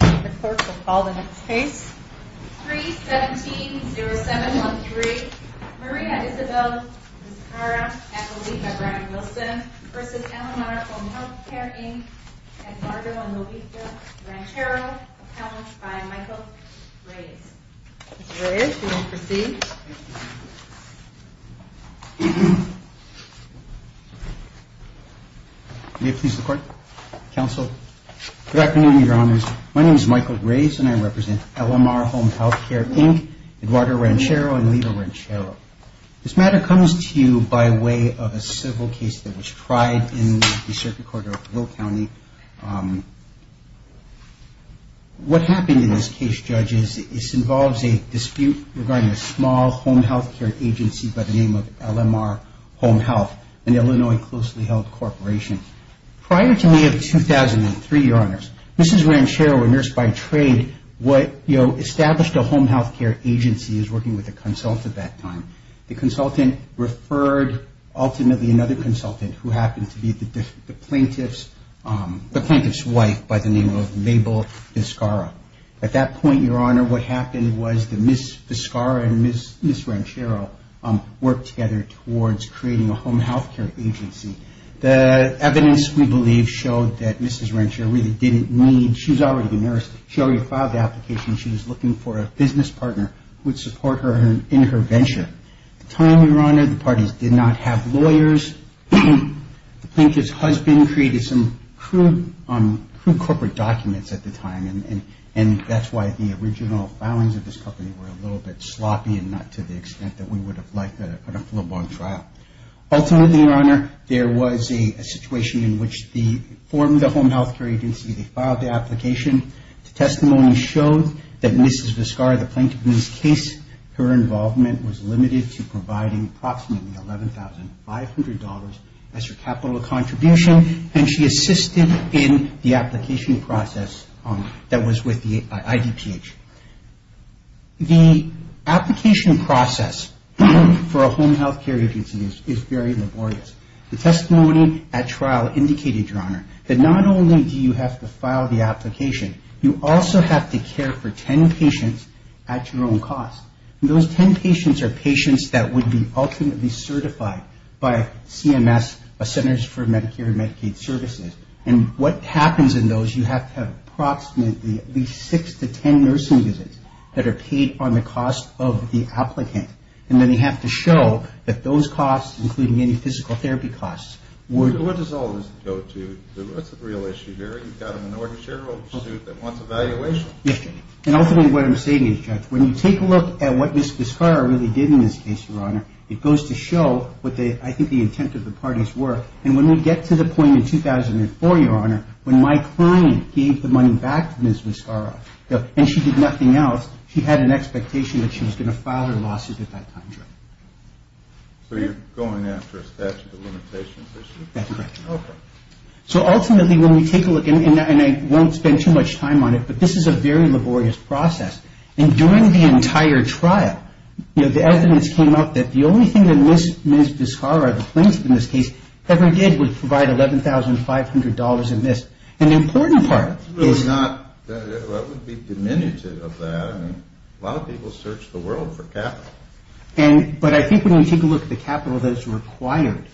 3-17-07-13 Maria Isabel Vizcarra v. LMR Home Health Care, Inc. and Margo and Lovita Ranchero, accounts by Michael Reyes. Mr. Reyes, you may proceed. May it please the Court, Counsel. Good afternoon, Your Honors. My name is Michael Reyes and I represent LMR Home Health Care, Inc., Eduardo Ranchero, and Lovita Ranchero. This matter comes to you by way of a civil case that was tried in the circuit court of Will County. What happened in this case, judges, involves a dispute regarding a small home health care agency by the name of LMR Home Health, an Illinois closely held corporation. Prior to May of 2003, Your Honors, Mrs. Ranchero, a nurse by trade, established a home health care agency as working with a consultant at that time. The consultant referred ultimately another consultant who happened to be the plaintiff's wife by the name of Mabel Vizcarra. At that point, Your Honor, what happened was that Ms. Vizcarra and Ms. Ranchero worked together towards creating a home health care agency. The evidence, we believe, showed that Mrs. Ranchero really didn't need, she was already a nurse, she already filed the application, she was looking for a business partner who would support her in her venture. At the time, Your Honor, the parties did not have lawyers. The plaintiff's husband created some crude corporate documents at the time and that's why the original filings of this company were a little bit sloppy and not to the extent that we would have liked a full-blown trial. Ultimately, Your Honor, there was a situation in which they formed the home health care agency, they filed the application. The testimony showed that Mrs. Vizcarra, the plaintiff in this case, her involvement was limited to providing approximately $11,500 as her capital contribution and she assisted in the application process that was with the IDPH. The application process for a home health care agency is very laborious. The testimony at trial indicated, Your Honor, that not only do you have to file the application, you also have to care for 10 patients at your own cost. Those 10 patients are patients that would be ultimately certified by CMS, Centers for Medicare and Medicaid Services, and what happens in those, you have to have approximately at least 6 to 10 nursing visits that are paid on the cost of the applicant and then you have to show that those costs, including any physical therapy costs. What does all this go to? What's the real issue here? You've got a minority shareholders' suit that wants evaluation. Yes, and ultimately what I'm saying is, Judge, when you take a look at what Mrs. Vizcarra really did in this case, Your Honor, it goes to show what I think the intent of the parties were and when we get to the point in 2004, Your Honor, when my client gave the money back to Mrs. Vizcarra and she did nothing else, she had an expectation that she was going to file her lawsuits at that time. So you're going after a statute of limitations issue? That's correct. Okay. So ultimately when we take a look, and I won't spend too much time on it, but this is a very laborious process, and during the entire trial, the evidence came out that the only thing that Mrs. Vizcarra, the plaintiff in this case, ever did was provide $11,500 in this. And the important part is... That's really not, that would be diminutive of that. A lot of people search the world for capital. But I think when you take a look at the capital that is required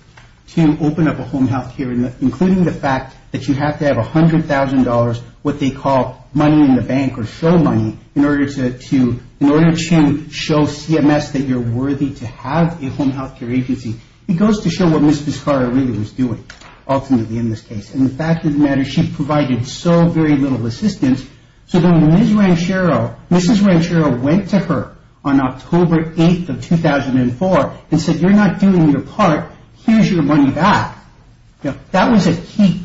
to open up a home health care, including the fact that you have to have $100,000, what they call money in the bank or show money, in order to show CMS that you're worthy to have a home health care agency, it goes to show what Mrs. Vizcarra really was doing ultimately in this case. And the fact of the matter is she provided so very little assistance, so when Mrs. Ranchero went to her on October 8th of 2004 and said, you're not doing your part, here's your money back, that was a key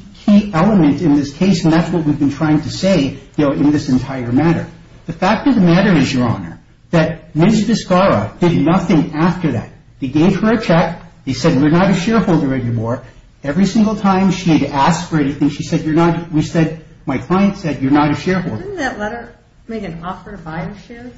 element in this case, and that's what we've been trying to say in this entire matter. The fact of the matter is, Your Honor, that Mrs. Vizcarra did nothing after that. They gave her a check. They said, you're not a shareholder anymore. Every single time she had asked for anything, she said, you're not. We said, my client said, you're not a shareholder. Didn't that letter make an offer to buy the shares?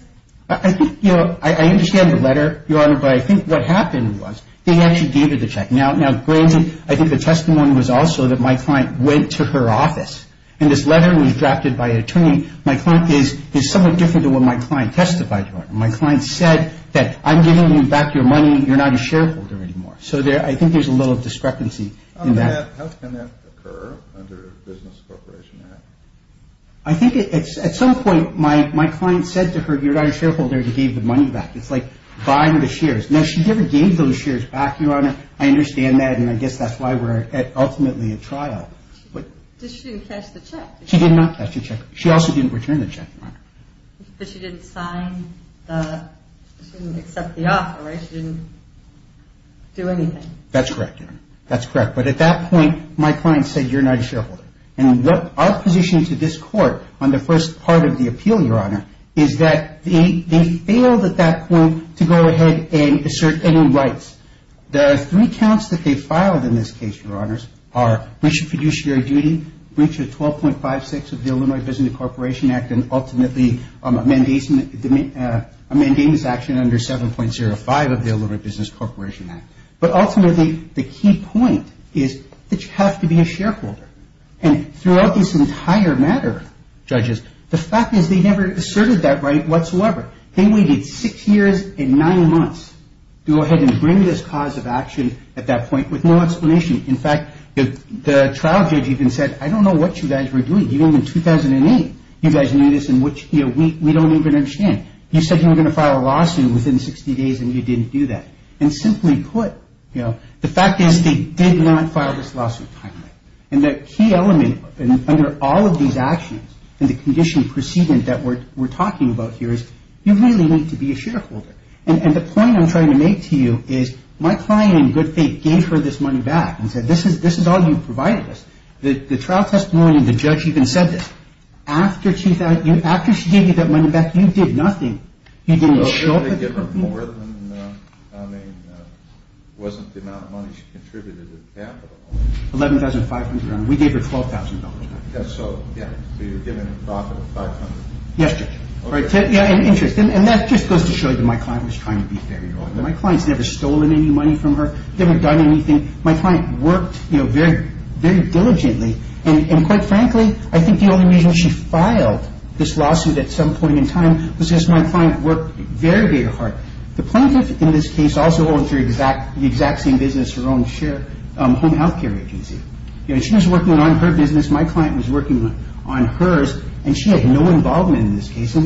I think, you know, I understand the letter, Your Honor, but I think what happened was they actually gave her the check. Now, granted, I think the testimony was also that my client went to her office, and this letter was drafted by an attorney. My client is somewhat different than what my client testified to. My client said that I'm giving you back your money, you're not a shareholder anymore. So I think there's a little discrepancy in that. I think at some point my client said to her, you're not a shareholder, and gave the money back. It's like buying the shares. Now, she never gave those shares back, Your Honor. I understand that, and I guess that's why we're ultimately at trial. She did not cash the check. She also didn't return the check, Your Honor. But she didn't sign the – she didn't accept the offer, right? She didn't do anything. That's correct, Your Honor. That's correct. But at that point, my client said, you're not a shareholder. And our position to this Court on the first part of the appeal, Your Honor, is that they failed at that point to go ahead and assert any rights. The three counts that they filed in this case, Your Honors, are breach of fiduciary duty, breach of 12.56 of the Illinois Business Corporation Act, and ultimately a mandamus action under 7.05 of the Illinois Business Corporation Act. But ultimately, the key point is that you have to be a shareholder. And throughout this entire matter, judges, the fact is they never asserted that right whatsoever. They waited six years and nine months to go ahead and bring this cause of action at that point with no explanation. In fact, the trial judge even said, I don't know what you guys were doing. In 2008, you guys knew this and we don't even understand. You said you were going to file a lawsuit within 60 days and you didn't do that. And simply put, the fact is they did not file this lawsuit timely. And the key element under all of these actions and the condition preceding that we're talking about here is you really need to be a shareholder. And the point I'm trying to make to you is my client, in good faith, gave her this money back and said this is all you've provided us. The trial testimony and the judge even said this. After she gave you that money back, you did nothing. You didn't show it. They gave her more than, I mean, it wasn't the amount of money she contributed in capital. $11,500. We gave her $12,000. So you were given a profit of $500. Yes, Judge. And that just goes to show you that my client was trying to be fair. My client's never stolen any money from her, never done anything. My client worked very diligently. And quite frankly, I think the only reason she filed this lawsuit at some point in time was because my client worked very, very hard. The plaintiff in this case also owns the exact same business her own home health care agency. She was working on her business. My client was working on hers. And she had no involvement in this case from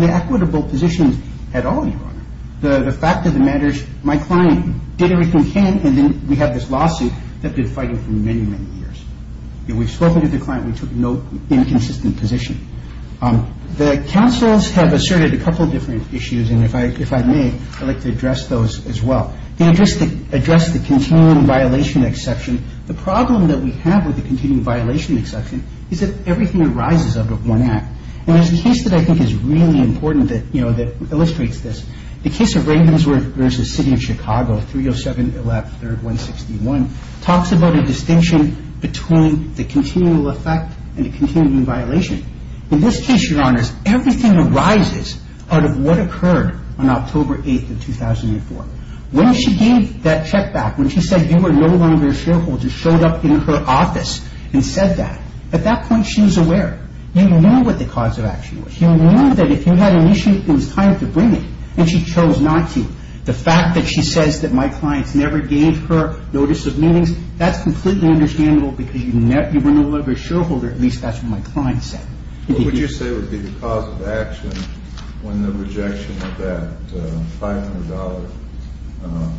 the equitable positions at all, Your Honor. The fact of the matter is my client did everything she can, and then we have this lawsuit that they've been fighting for many, many years. We've spoken to the client. We took no inconsistent position. The counsels have asserted a couple of different issues, and if I may, I'd like to address those as well. They addressed the continuing violation exception. The problem that we have with the continuing violation exception is that everything arises out of one act. And there's a case that I think is really important that illustrates this. The case of Ravensworth v. City of Chicago, 307-113-161, talks about a distinction between the continual effect and the continuing violation. In this case, Your Honors, everything arises out of what occurred on October 8th of 2004. When she gave that check back, when she said you are no longer a shareholder, showed up in her office and said that, at that point she was aware. You knew what the cause of action was. You knew that if you had an issue, it was time to bring it, and she chose not to. The fact that she says that my clients never gave her notice of meetings, that's completely understandable because you were no longer a shareholder. At least that's what my client said. What would you say would be the cause of action when the rejection of that $500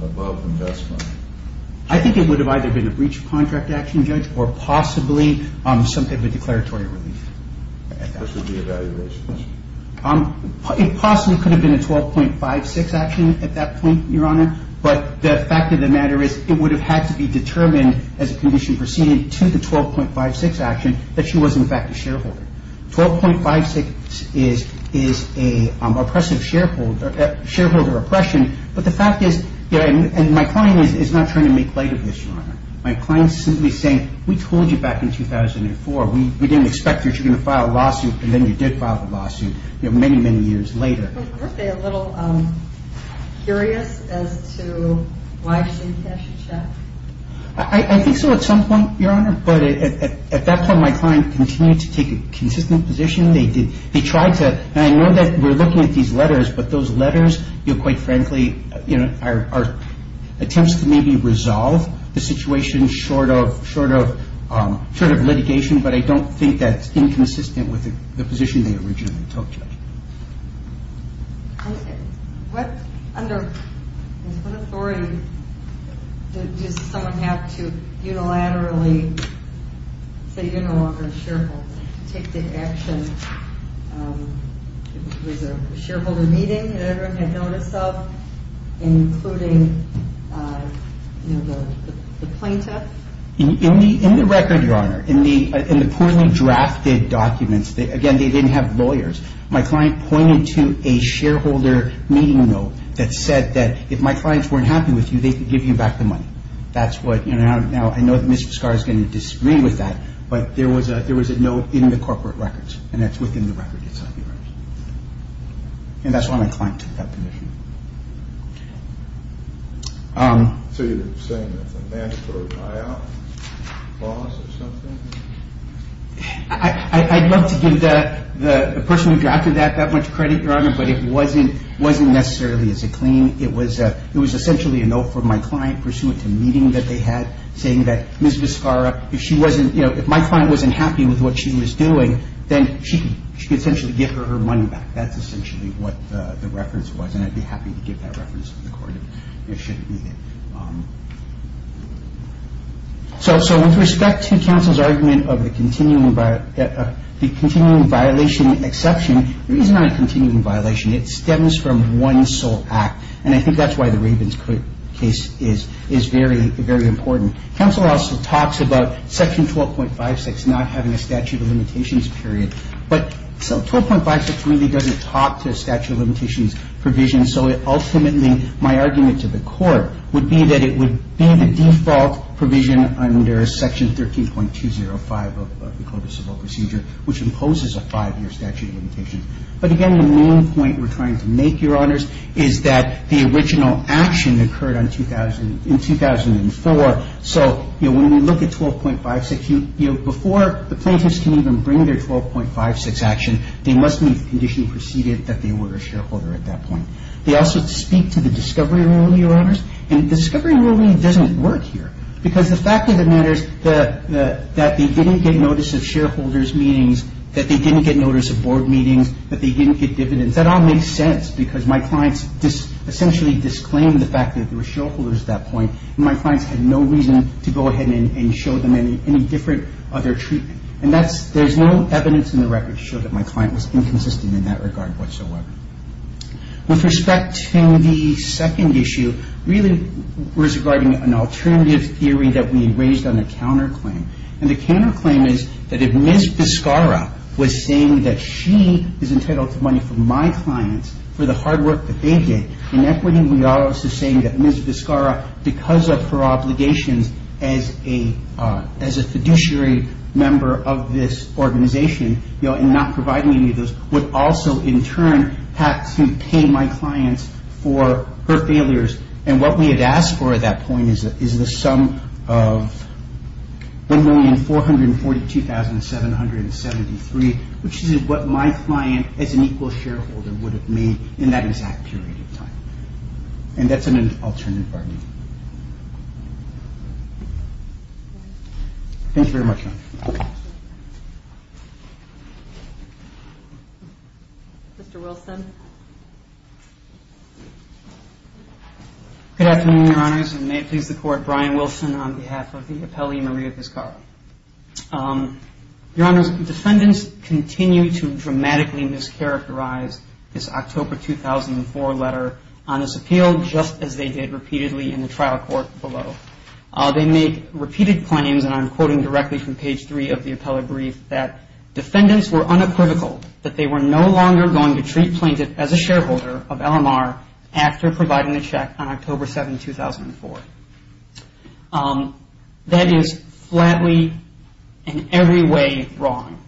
above investment? I think it would have either been a breach of contract action, Judge, or possibly something with declaratory relief. This would be a valuation? It possibly could have been a 12.56 action at that point, Your Honor. But the fact of the matter is it would have had to be determined as a condition preceded to the 12.56 action that she was in fact a shareholder. 12.56 is a shareholder oppression. But the fact is, and my client is not trying to make light of this, Your Honor. My client is simply saying, we told you back in 2004. We didn't expect that you were going to file a lawsuit, and then you did file the lawsuit many, many years later. Weren't they a little curious as to why she didn't cash the check? I think so at some point, Your Honor. But at that point my client continued to take a consistent position. They tried to, and I know that we're looking at these letters, but those letters, quite frankly, are attempts to maybe resolve the situation short of litigation, but I don't think that's inconsistent with the position they originally took, Judge. What authority does someone have to unilaterally say you're no longer a shareholder to take the action? Was there a shareholder meeting that everyone had noticed of, including the plaintiff? In the record, Your Honor, in the poorly drafted documents, again, they didn't have lawyers. My client pointed to a shareholder meeting note that said that if my clients weren't happy with you, they could give you back the money. Now, I know that Mr. Scarr is going to disagree with that, but there was a note in the corporate records, and that's within the record itself. And that's why my client took that position. So you're saying that's a mandatory buyout clause or something? I'd love to give the person who drafted that that much credit, Your Honor, but it wasn't necessarily as a claim. It was essentially a note from my client pursuant to a meeting that they had saying that Ms. Vizcarra, if my client wasn't happy with what she was doing, then she could essentially give her her money back. That's essentially what the reference was, and I'd be happy to give that reference to the court if it shouldn't be there. So with respect to counsel's argument of the continuing violation exception, it is not a continuing violation. It stems from one sole act, and I think that's why the Ravens case is very important. Counsel also talks about Section 12.56 not having a statute of limitations period, but 12.56 really doesn't talk to a statute of limitations provision, so ultimately my argument to the court would be that it would be the default provision under Section 13.205 of the Code of Civil Procedure, which imposes a five-year statute of limitations. But again, the main point we're trying to make, Your Honors, is that the original action occurred in 2004, so when we look at 12.56, before the plaintiffs can even bring their 12.56 action, they must meet the condition preceded that they were a shareholder at that point. They also speak to the discovery rule, Your Honors, and the discovery rule really doesn't work here because the fact of the matter is that they didn't get notice of shareholders' meetings, that they didn't get notice of board meetings, that they didn't get dividends. That all makes sense because my clients essentially disclaimed the fact that there were shareholders at that point, and my clients had no reason to go ahead and show them any different other treatment. And there's no evidence in the record to show that my client was inconsistent in that regard whatsoever. With respect to the second issue, really we're describing an alternative theory that we raised on a counterclaim. And the counterclaim is that if Ms. Vizcarra was saying that she is entitled to money from my clients for the hard work that they did, in equity we are also saying that Ms. Vizcarra, because of her obligations as a fiduciary member of this organization, and not providing any of those, would also in turn have to pay my clients for her failures. And what we had asked for at that point is the sum of $1,442,773, which is what my client as an equal shareholder would have made in that exact period of time. And that's an alternative argument. Thank you very much. Mr. Wilson. Good afternoon, Your Honors. And may it please the Court, Brian Wilson on behalf of the appellee Maria Vizcarra. Your Honors, defendants continue to dramatically mischaracterize this October 2004 letter on this appeal, just as they did repeatedly in the trial court below. They make repeated claims, and I'm quoting directly from page three of the appellate brief, that defendants were unapolitical, that they were no longer going to treat plaintiff as a shareholder of LMR after providing a check on October 7, 2004. That is flatly in every way wrong.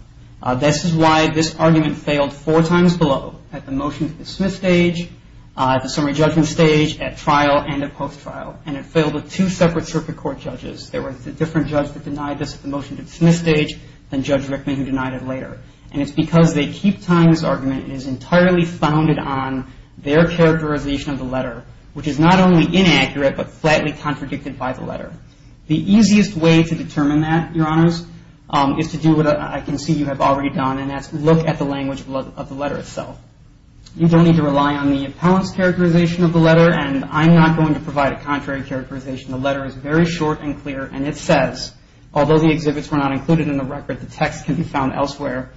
This is why this argument failed four times below at the motion to the Smith stage, at the summary judgment stage, at trial, and at post-trial, and it failed with two separate circuit court judges. There was a different judge that denied this at the motion to the Smith stage than Judge Rickman who denied it later. And it's because they keep tying this argument, and it's entirely founded on their characterization of the letter, which is not only inaccurate but flatly contradicted by the letter. The easiest way to determine that, Your Honors, is to do what I can see you have already done, and that's look at the language of the letter itself. You don't need to rely on the appellant's characterization of the letter, and I'm not going to provide a contrary characterization. The letter is very short and clear, and it says, although the exhibits were not included in the record, the text can be found elsewhere,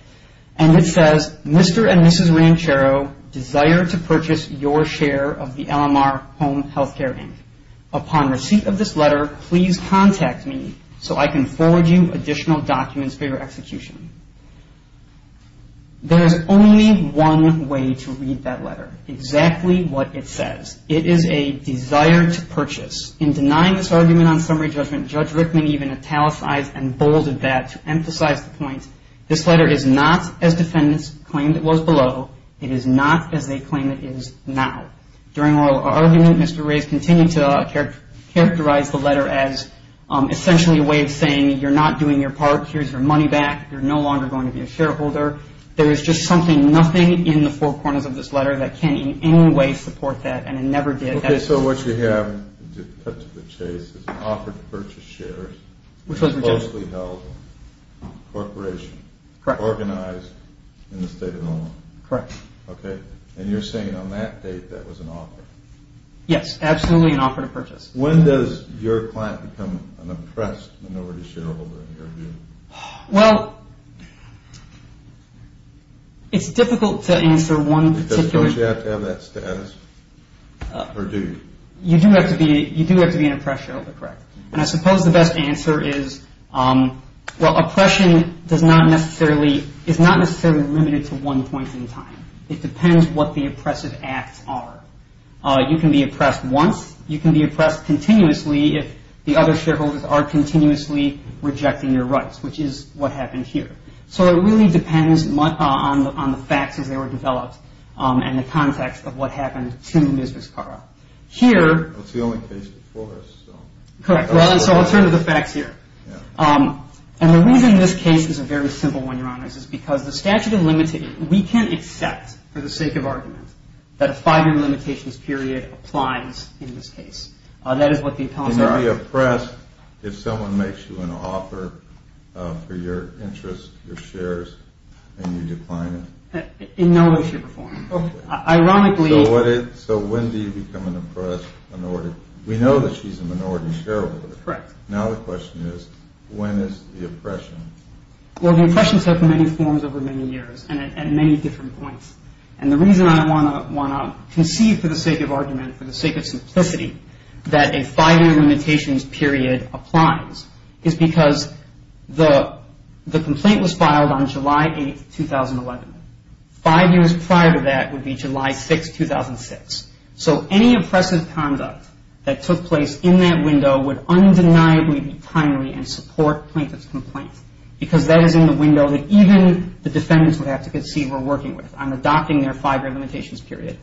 and it says, Mr. and Mrs. Ranchero desire to purchase your share of the LMR Home Health Care Inc. Upon receipt of this letter, please contact me so I can forward you additional documents for your execution. There is only one way to read that letter, exactly what it says. It is a desire to purchase. In denying this argument on summary judgment, Judge Rickman even italicized and bolded that to emphasize the point, this letter is not as defendants claimed it was below. It is not as they claim it is now. During our argument, Mr. Rays continued to characterize the letter as essentially a way of saying, you're not doing your part. Here's your money back. You're no longer going to be a shareholder. There is just something, nothing in the four corners of this letter that can in any way support that, and it never did. Okay, so what you have put to the chase is an offer to purchase shares. Which was rejected. Closely held corporation. Correct. Organized in the state of Illinois. Correct. Yes, absolutely an offer to purchase. When does your client become an oppressed minority shareholder in your view? Well, it's difficult to answer one particular. Does it have to have that status, or do you? You do have to be an oppressed shareholder, correct. And I suppose the best answer is, well, oppression is not necessarily limited to one point in time. It depends what the oppressive acts are. You can be oppressed once. You can be oppressed continuously if the other shareholders are continuously rejecting your rights, which is what happened here. So it really depends on the facts as they were developed and the context of what happened to Mrs. Carr. It's the only case before this. Correct. So I'll turn to the facts here. And the reason this case is a very simple one, Your Honors, is because the statute of limitations, we can accept for the sake of argument that a five-year limitations period applies in this case. That is what the accounts are. Can you be oppressed if someone makes you an offer for your interests, your shares, and you decline it? In no way, shape, or form. Ironically. So when do you become an oppressed minority? We know that she's a minority shareholder. Correct. Now the question is, when is the oppression? Well, the oppressions have many forms over many years and at many different points. And the reason I want to conceive for the sake of argument, for the sake of simplicity, that a five-year limitations period applies is because the complaint was filed on July 8, 2011. Five years prior to that would be July 6, 2006. So any oppressive conduct that took place in that window would undeniably be timely and support plaintiff's complaint. Because that is in the window that even the defendants would have to conceive were working with on adopting their five-year limitations period.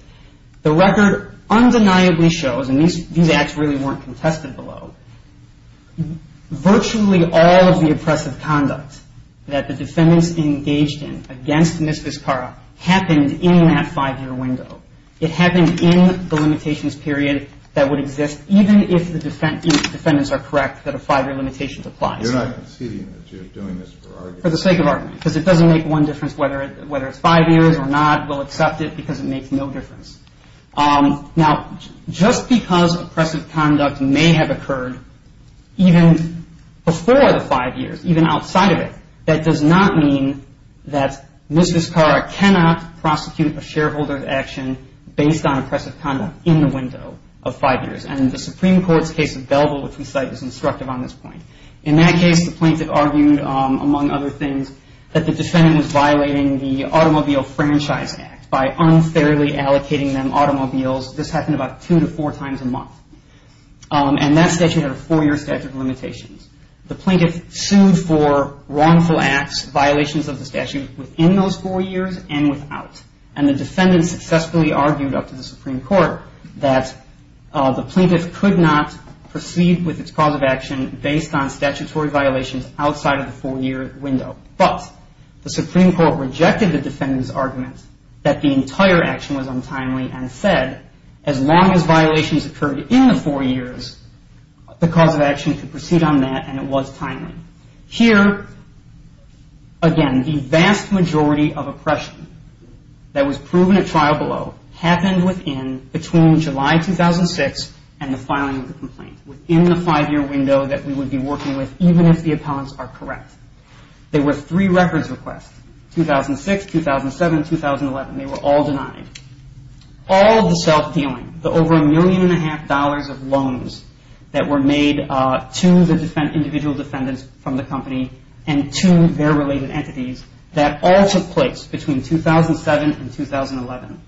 The record undeniably shows, and these acts really weren't contested below, virtually all of the oppressive conduct that the defendants engaged in against Ms. Vizcarra happened in that five-year window. It happened in the limitations period that would exist even if the defendants are correct that a five-year limitations applies. You're not conceding that you're doing this for argument. For the sake of argument. Because it doesn't make one difference whether it's five years or not. We'll accept it because it makes no difference. Now, just because oppressive conduct may have occurred even before the five years, even outside of it, that does not mean that Ms. Vizcarra cannot prosecute a shareholder's action based on oppressive conduct in the window of five years. And the Supreme Court's case of Belville, which we cite, is instructive on this point. In that case, the plaintiff argued, among other things, that the defendant was violating the Automobile Franchise Act by unfairly allocating them automobiles. This happened about two to four times a month. The plaintiff sued for wrongful acts, violations of the statute, within those four years and without. And the defendant successfully argued up to the Supreme Court that the plaintiff could not proceed with its cause of action based on statutory violations outside of the four-year window. But the Supreme Court rejected the defendant's argument that the entire action was untimely and said, as long as violations occurred in the four years, the cause of action could proceed on that and it was timely. Here, again, the vast majority of oppression that was proven at trial below happened within, between July 2006 and the filing of the complaint, within the five-year window that we would be working with, even if the appellants are correct. There were three records requests, 2006, 2007, and 2011. They were all denied. All of the self-dealing, the over $1.5 million of loans that were made to the individual defendants from the company and to their related entities, that all took place between 2007 and 2011.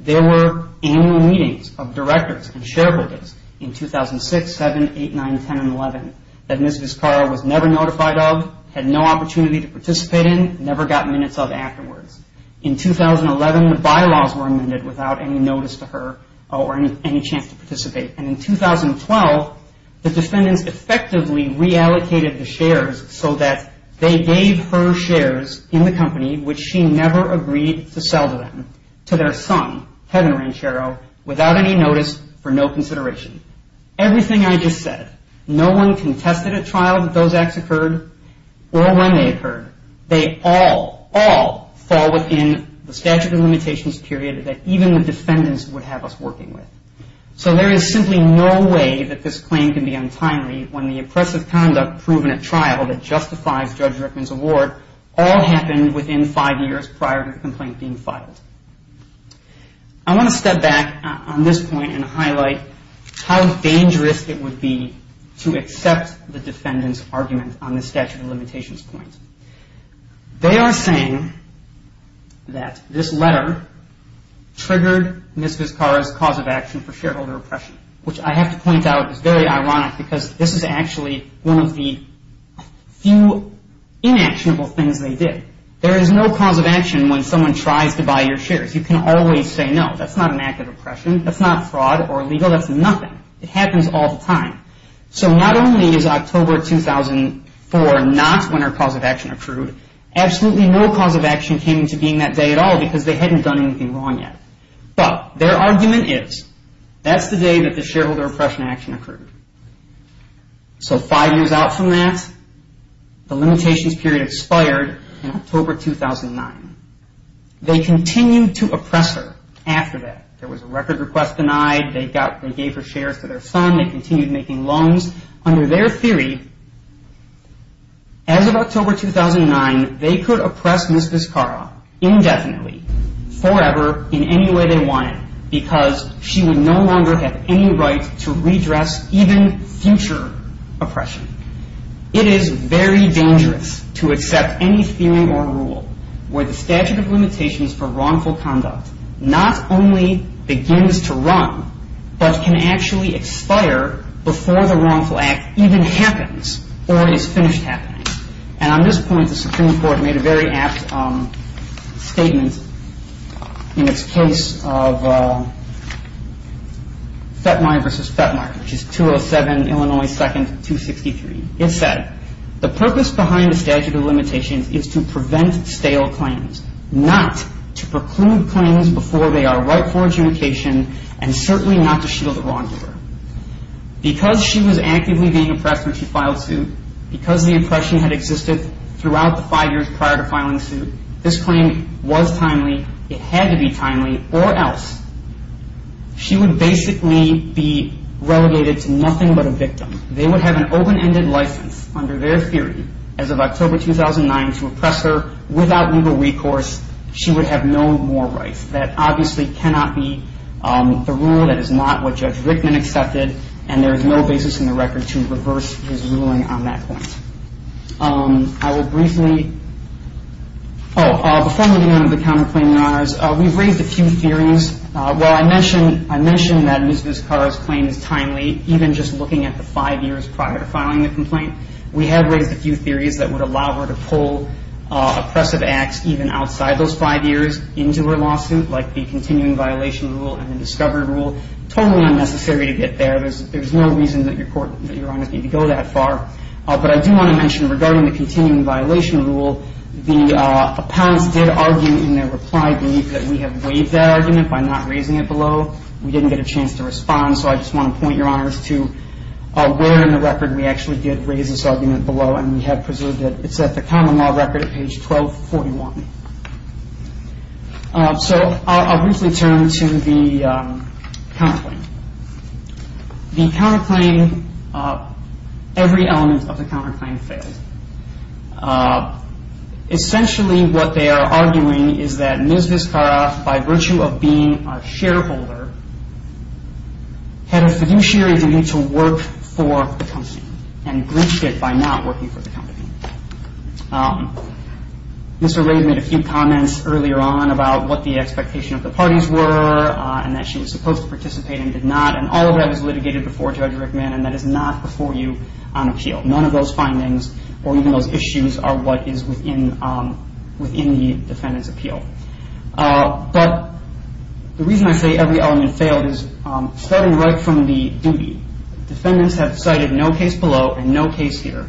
There were annual meetings of directors and shareholders in 2006, 7, 8, 9, 10, and 11 that Ms. Vizcarra was never notified of, had no opportunity to participate in, never got minutes of afterwards. In 2011, the bylaws were amended without any notice to her or any chance to participate. And in 2012, the defendants effectively reallocated the shares so that they gave her shares in the company, which she never agreed to sell to them, to their son, Kevin Ranchero, without any notice, for no consideration. Everything I just said, no one contested at trial that those acts occurred or when they occurred. They all, all fall within the statute of limitations period that even the defendants would have us working with. So there is simply no way that this claim can be untimely when the oppressive conduct proven at trial that justifies Judge Rickman's award all happened within five years prior to the complaint being filed. I want to step back on this point and highlight how dangerous it would be to accept the defendant's argument on the statute of limitations point. They are saying that this letter triggered Ms. Vizcarra's cause of action for shareholder oppression, which I have to point out is very ironic because this is actually one of the few inactionable things they did. There is no cause of action when someone tries to buy your shares. You can always say no, that's not an act of oppression, that's not fraud or illegal, that's nothing. It happens all the time. So not only is October 2004 not when her cause of action occurred, absolutely no cause of action came into being that day at all because they hadn't done anything wrong yet. But their argument is that's the day that the shareholder oppression action occurred. So five years out from that, the limitations period expired in October 2009. They continued to oppress her after that. There was a record request denied. They gave her shares to their son. They continued making loans. Under their theory, as of October 2009, they could oppress Ms. Vizcarra indefinitely, forever, in any way they wanted because she would no longer have any right to redress even future oppression. It is very dangerous to accept any theory or rule where the statute of limitations for wrongful conduct not only begins to run but can actually expire before the wrongful act even happens or is finished happening. And on this point, the Supreme Court made a very apt statement in its case of FETMAR versus FETMAR, which is 207 Illinois 2nd, 263. It said, the purpose behind the statute of limitations is to prevent stale claims, not to preclude claims before they are rightful adjudication, and certainly not to shield the wrongdoer. Because she was actively being oppressed when she filed suit, because the oppression had existed throughout the five years prior to filing suit, this claim was timely, it had to be timely, or else she would basically be relegated to nothing but a victim. They would have an open-ended license under their theory as of October 2009 to oppress her without legal recourse. She would have no more rights. That obviously cannot be the rule, that is not what Judge Rickman accepted, and there is no basis in the record to reverse his ruling on that point. I will briefly – oh, before moving on to the counterclaiming honors, we've raised a few theories. While I mentioned that Ms. Vizcarra's claim is timely, even just looking at the five years prior to filing the complaint, we have raised a few theories that would allow her to pull oppressive acts even outside those five years into her lawsuit, like the continuing violation rule and the discovery rule. Totally unnecessary to get there. There's no reason that your Honor needs to go that far. But I do want to mention, regarding the continuing violation rule, the opponents did argue in their reply brief that we have waived that argument by not raising it below. We didn't get a chance to respond, so I just want to point your Honors to where in the record we actually did raise this argument below, and we have preserved it. It's at the common law record at page 1241. So I'll briefly turn to the counterclaim. The counterclaim – every element of the counterclaim failed. Essentially, what they are arguing is that Ms. Vizcarra, by virtue of being a shareholder, had a fiduciary duty to work for the company and breached it by not working for the company. Mr. Rabe made a few comments earlier on about what the expectation of the parties were and that she was supposed to participate and did not, and all of that was litigated before Judge Rickman, and that is not before you on appeal. None of those findings or even those issues are what is within the defendant's appeal. But the reason I say every element failed is starting right from the duty. Defendants have cited no case below and no case here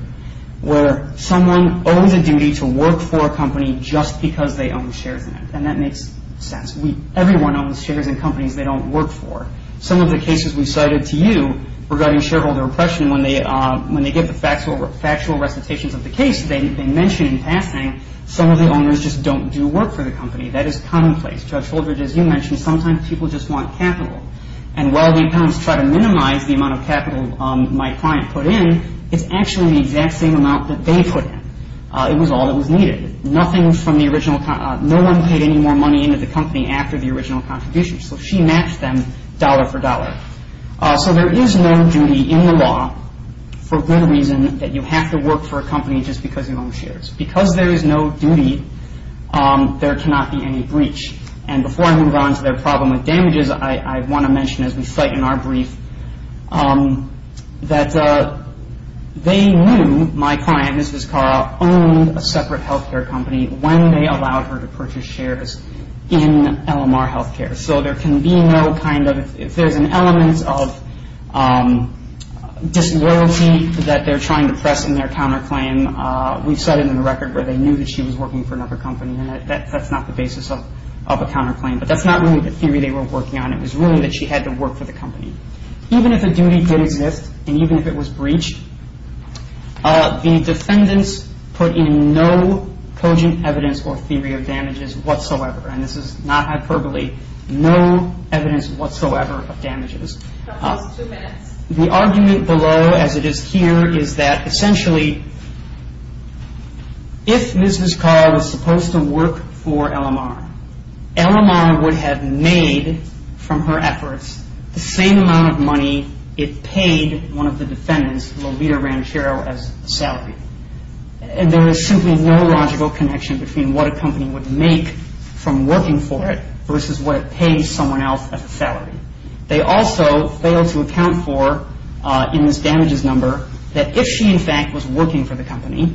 where someone owns a duty to work for a company just because they own shares in it, and that makes sense. Everyone owns shares in companies they don't work for. Some of the cases we cited to you regarding shareholder oppression, when they give the factual recitations of the case, they mention in passing some of the owners just don't do work for the company. That is commonplace. Judge Holdred, as you mentioned, sometimes people just want capital, and while the accountants try to minimize the amount of capital my client put in, it's actually the exact same amount that they put in. It was all that was needed. No one paid any more money into the company after the original contribution, so she matched them dollar for dollar. So there is no duty in the law for good reason that you have to work for a company just because you own shares. Because there is no duty, there cannot be any breach. And before I move on to their problem with damages, I want to mention as we cite in our brief that they knew my client, Ms. Vizcarra, owned a separate health care company when they allowed her to purchase shares in LMR Health Care. So there can be no kind of, if there's an element of disloyalty that they're trying to press in their counterclaim, we've said it in the record where they knew that she was working for another company, and that's not the basis of a counterclaim. But that's not really the theory they were working on. It was really that she had to work for the company. Even if a duty did exist and even if it was breached, the defendants put in no cogent evidence or theory of damages whatsoever. And this is not hyperbole. No evidence whatsoever of damages. The argument below as it is here is that essentially if Ms. Vizcarra was supposed to work for LMR, LMR would have made from her efforts the same amount of money it paid one of the defendants, Lolita Ranchero, as a salary. And there is simply no logical connection between what a company would make from working for it versus what it pays someone else as a salary. They also failed to account for, in this damages number, that if she in fact was working for the company,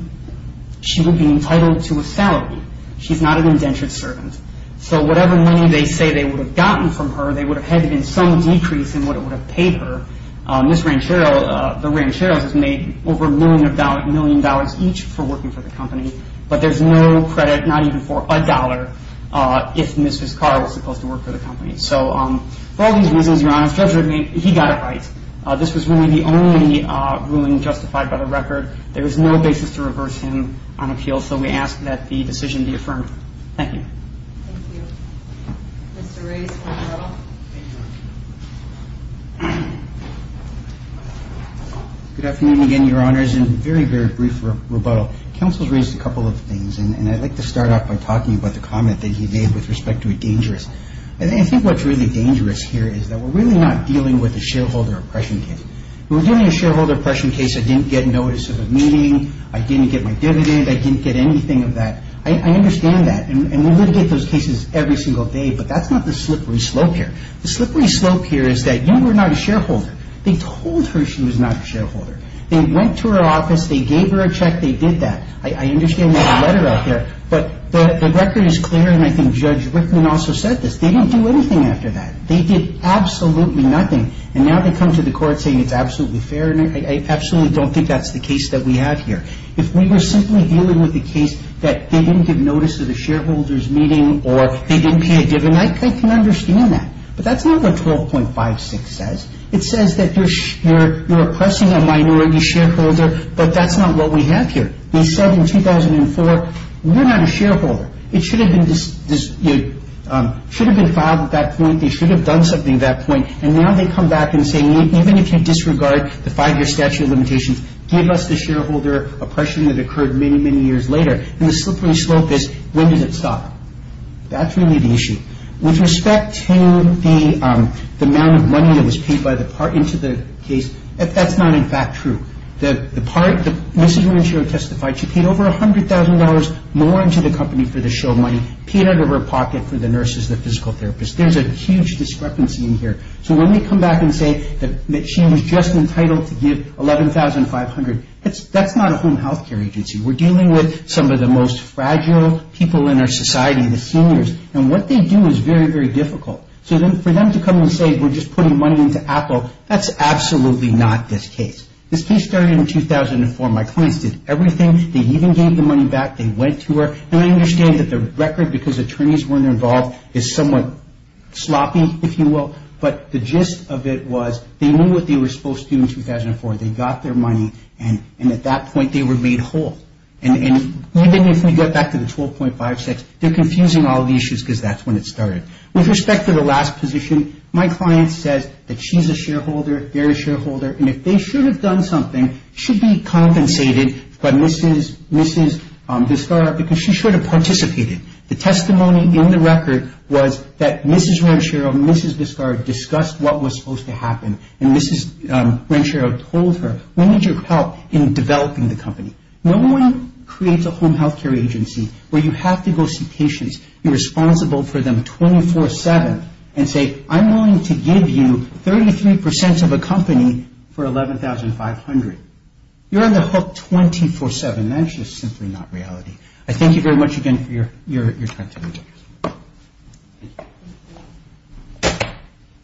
she would be entitled to a salary. She's not an indentured servant. So whatever money they say they would have gotten from her, they would have had it in some decrease in what it would have paid her. Ms. Ranchero, the Rancheros, was made over a million dollars each for working for the company. But there's no credit, not even for a dollar, if Ms. Vizcarra was supposed to work for the company. So for all these reasons, Your Honor, the judge would have made, he got it right. This was really the only ruling justified by the record. There is no basis to reverse him on appeal. So we ask that the decision be affirmed. Thank you. Thank you. Mr. Ray's rebuttal. Good afternoon again, Your Honors. And a very, very brief rebuttal. Counsel has raised a couple of things, and I'd like to start off by talking about the comment that he made with respect to a dangerous. I think what's really dangerous here is that we're really not dealing with a shareholder oppression case. If we're dealing with a shareholder oppression case, I didn't get notice of a meeting, I didn't get my dividend, I didn't get anything of that. I understand that. And we litigate those cases every single day, but that's not the slippery slope here. The slippery slope here is that, you know, we're not a shareholder. They told her she was not a shareholder. They went to her office, they gave her a check, they did that. I understand there's a letter out there. But the record is clear, and I think Judge Rickman also said this. They didn't do anything after that. They did absolutely nothing. And now they come to the court saying it's absolutely fair, and I absolutely don't think that's the case that we have here. If we were simply dealing with a case that they didn't give notice of the shareholder's meeting or they didn't pay a dividend, I can understand that. But that's not what 12.56 says. It says that you're oppressing a minority shareholder, but that's not what we have here. They said in 2004, we're not a shareholder. It should have been filed at that point. They should have done something at that point. And now they come back and say, even if you disregard the five-year statute of limitations, give us the shareholder oppression that occurred many, many years later. And the slippery slope is, when does it stop? That's really the issue. With respect to the amount of money that was paid into the case, that's not, in fact, true. The part, Mrs. Renshaw testified she paid over $100,000 more into the company for the show money, paid out of her pocket for the nurses and the physical therapists. There's a huge discrepancy in here. So when they come back and say that she was just entitled to give $11,500, that's not a home health care agency. We're dealing with some of the most fragile people in our society, the seniors. And what they do is very, very difficult. So for them to come and say we're just putting money into Apple, that's absolutely not this case. This case started in 2004. My clients did everything. They even gave the money back. They went to her. And I understand that the record, because attorneys weren't involved, is somewhat sloppy, if you will, but the gist of it was they knew what they were supposed to do in 2004. They got their money, and at that point they were made whole. And even if we go back to the 12.56, they're confusing all the issues because that's when it started. With respect to the last position, my client says that she's a shareholder, they're a shareholder, and if they should have done something, should be compensated by Mrs. Vizcarra because she should have participated. The testimony in the record was that Mrs. Ranchero and Mrs. Vizcarra discussed what was supposed to happen, and Mrs. Ranchero told her we need your help in developing the company. No one creates a home health care agency where you have to go see patients, you're responsible for them 24-7, and say I'm willing to give you 33% of a company for $11,500. You're on the hook 24-7. That's just simply not reality. I thank you very much again for your time today.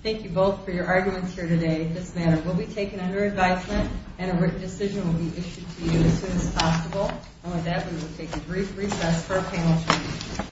Thank you both for your arguments here today. This matter will be taken under advisement, and a written decision will be issued to you as soon as possible. With that, we will take a brief recess for our panel.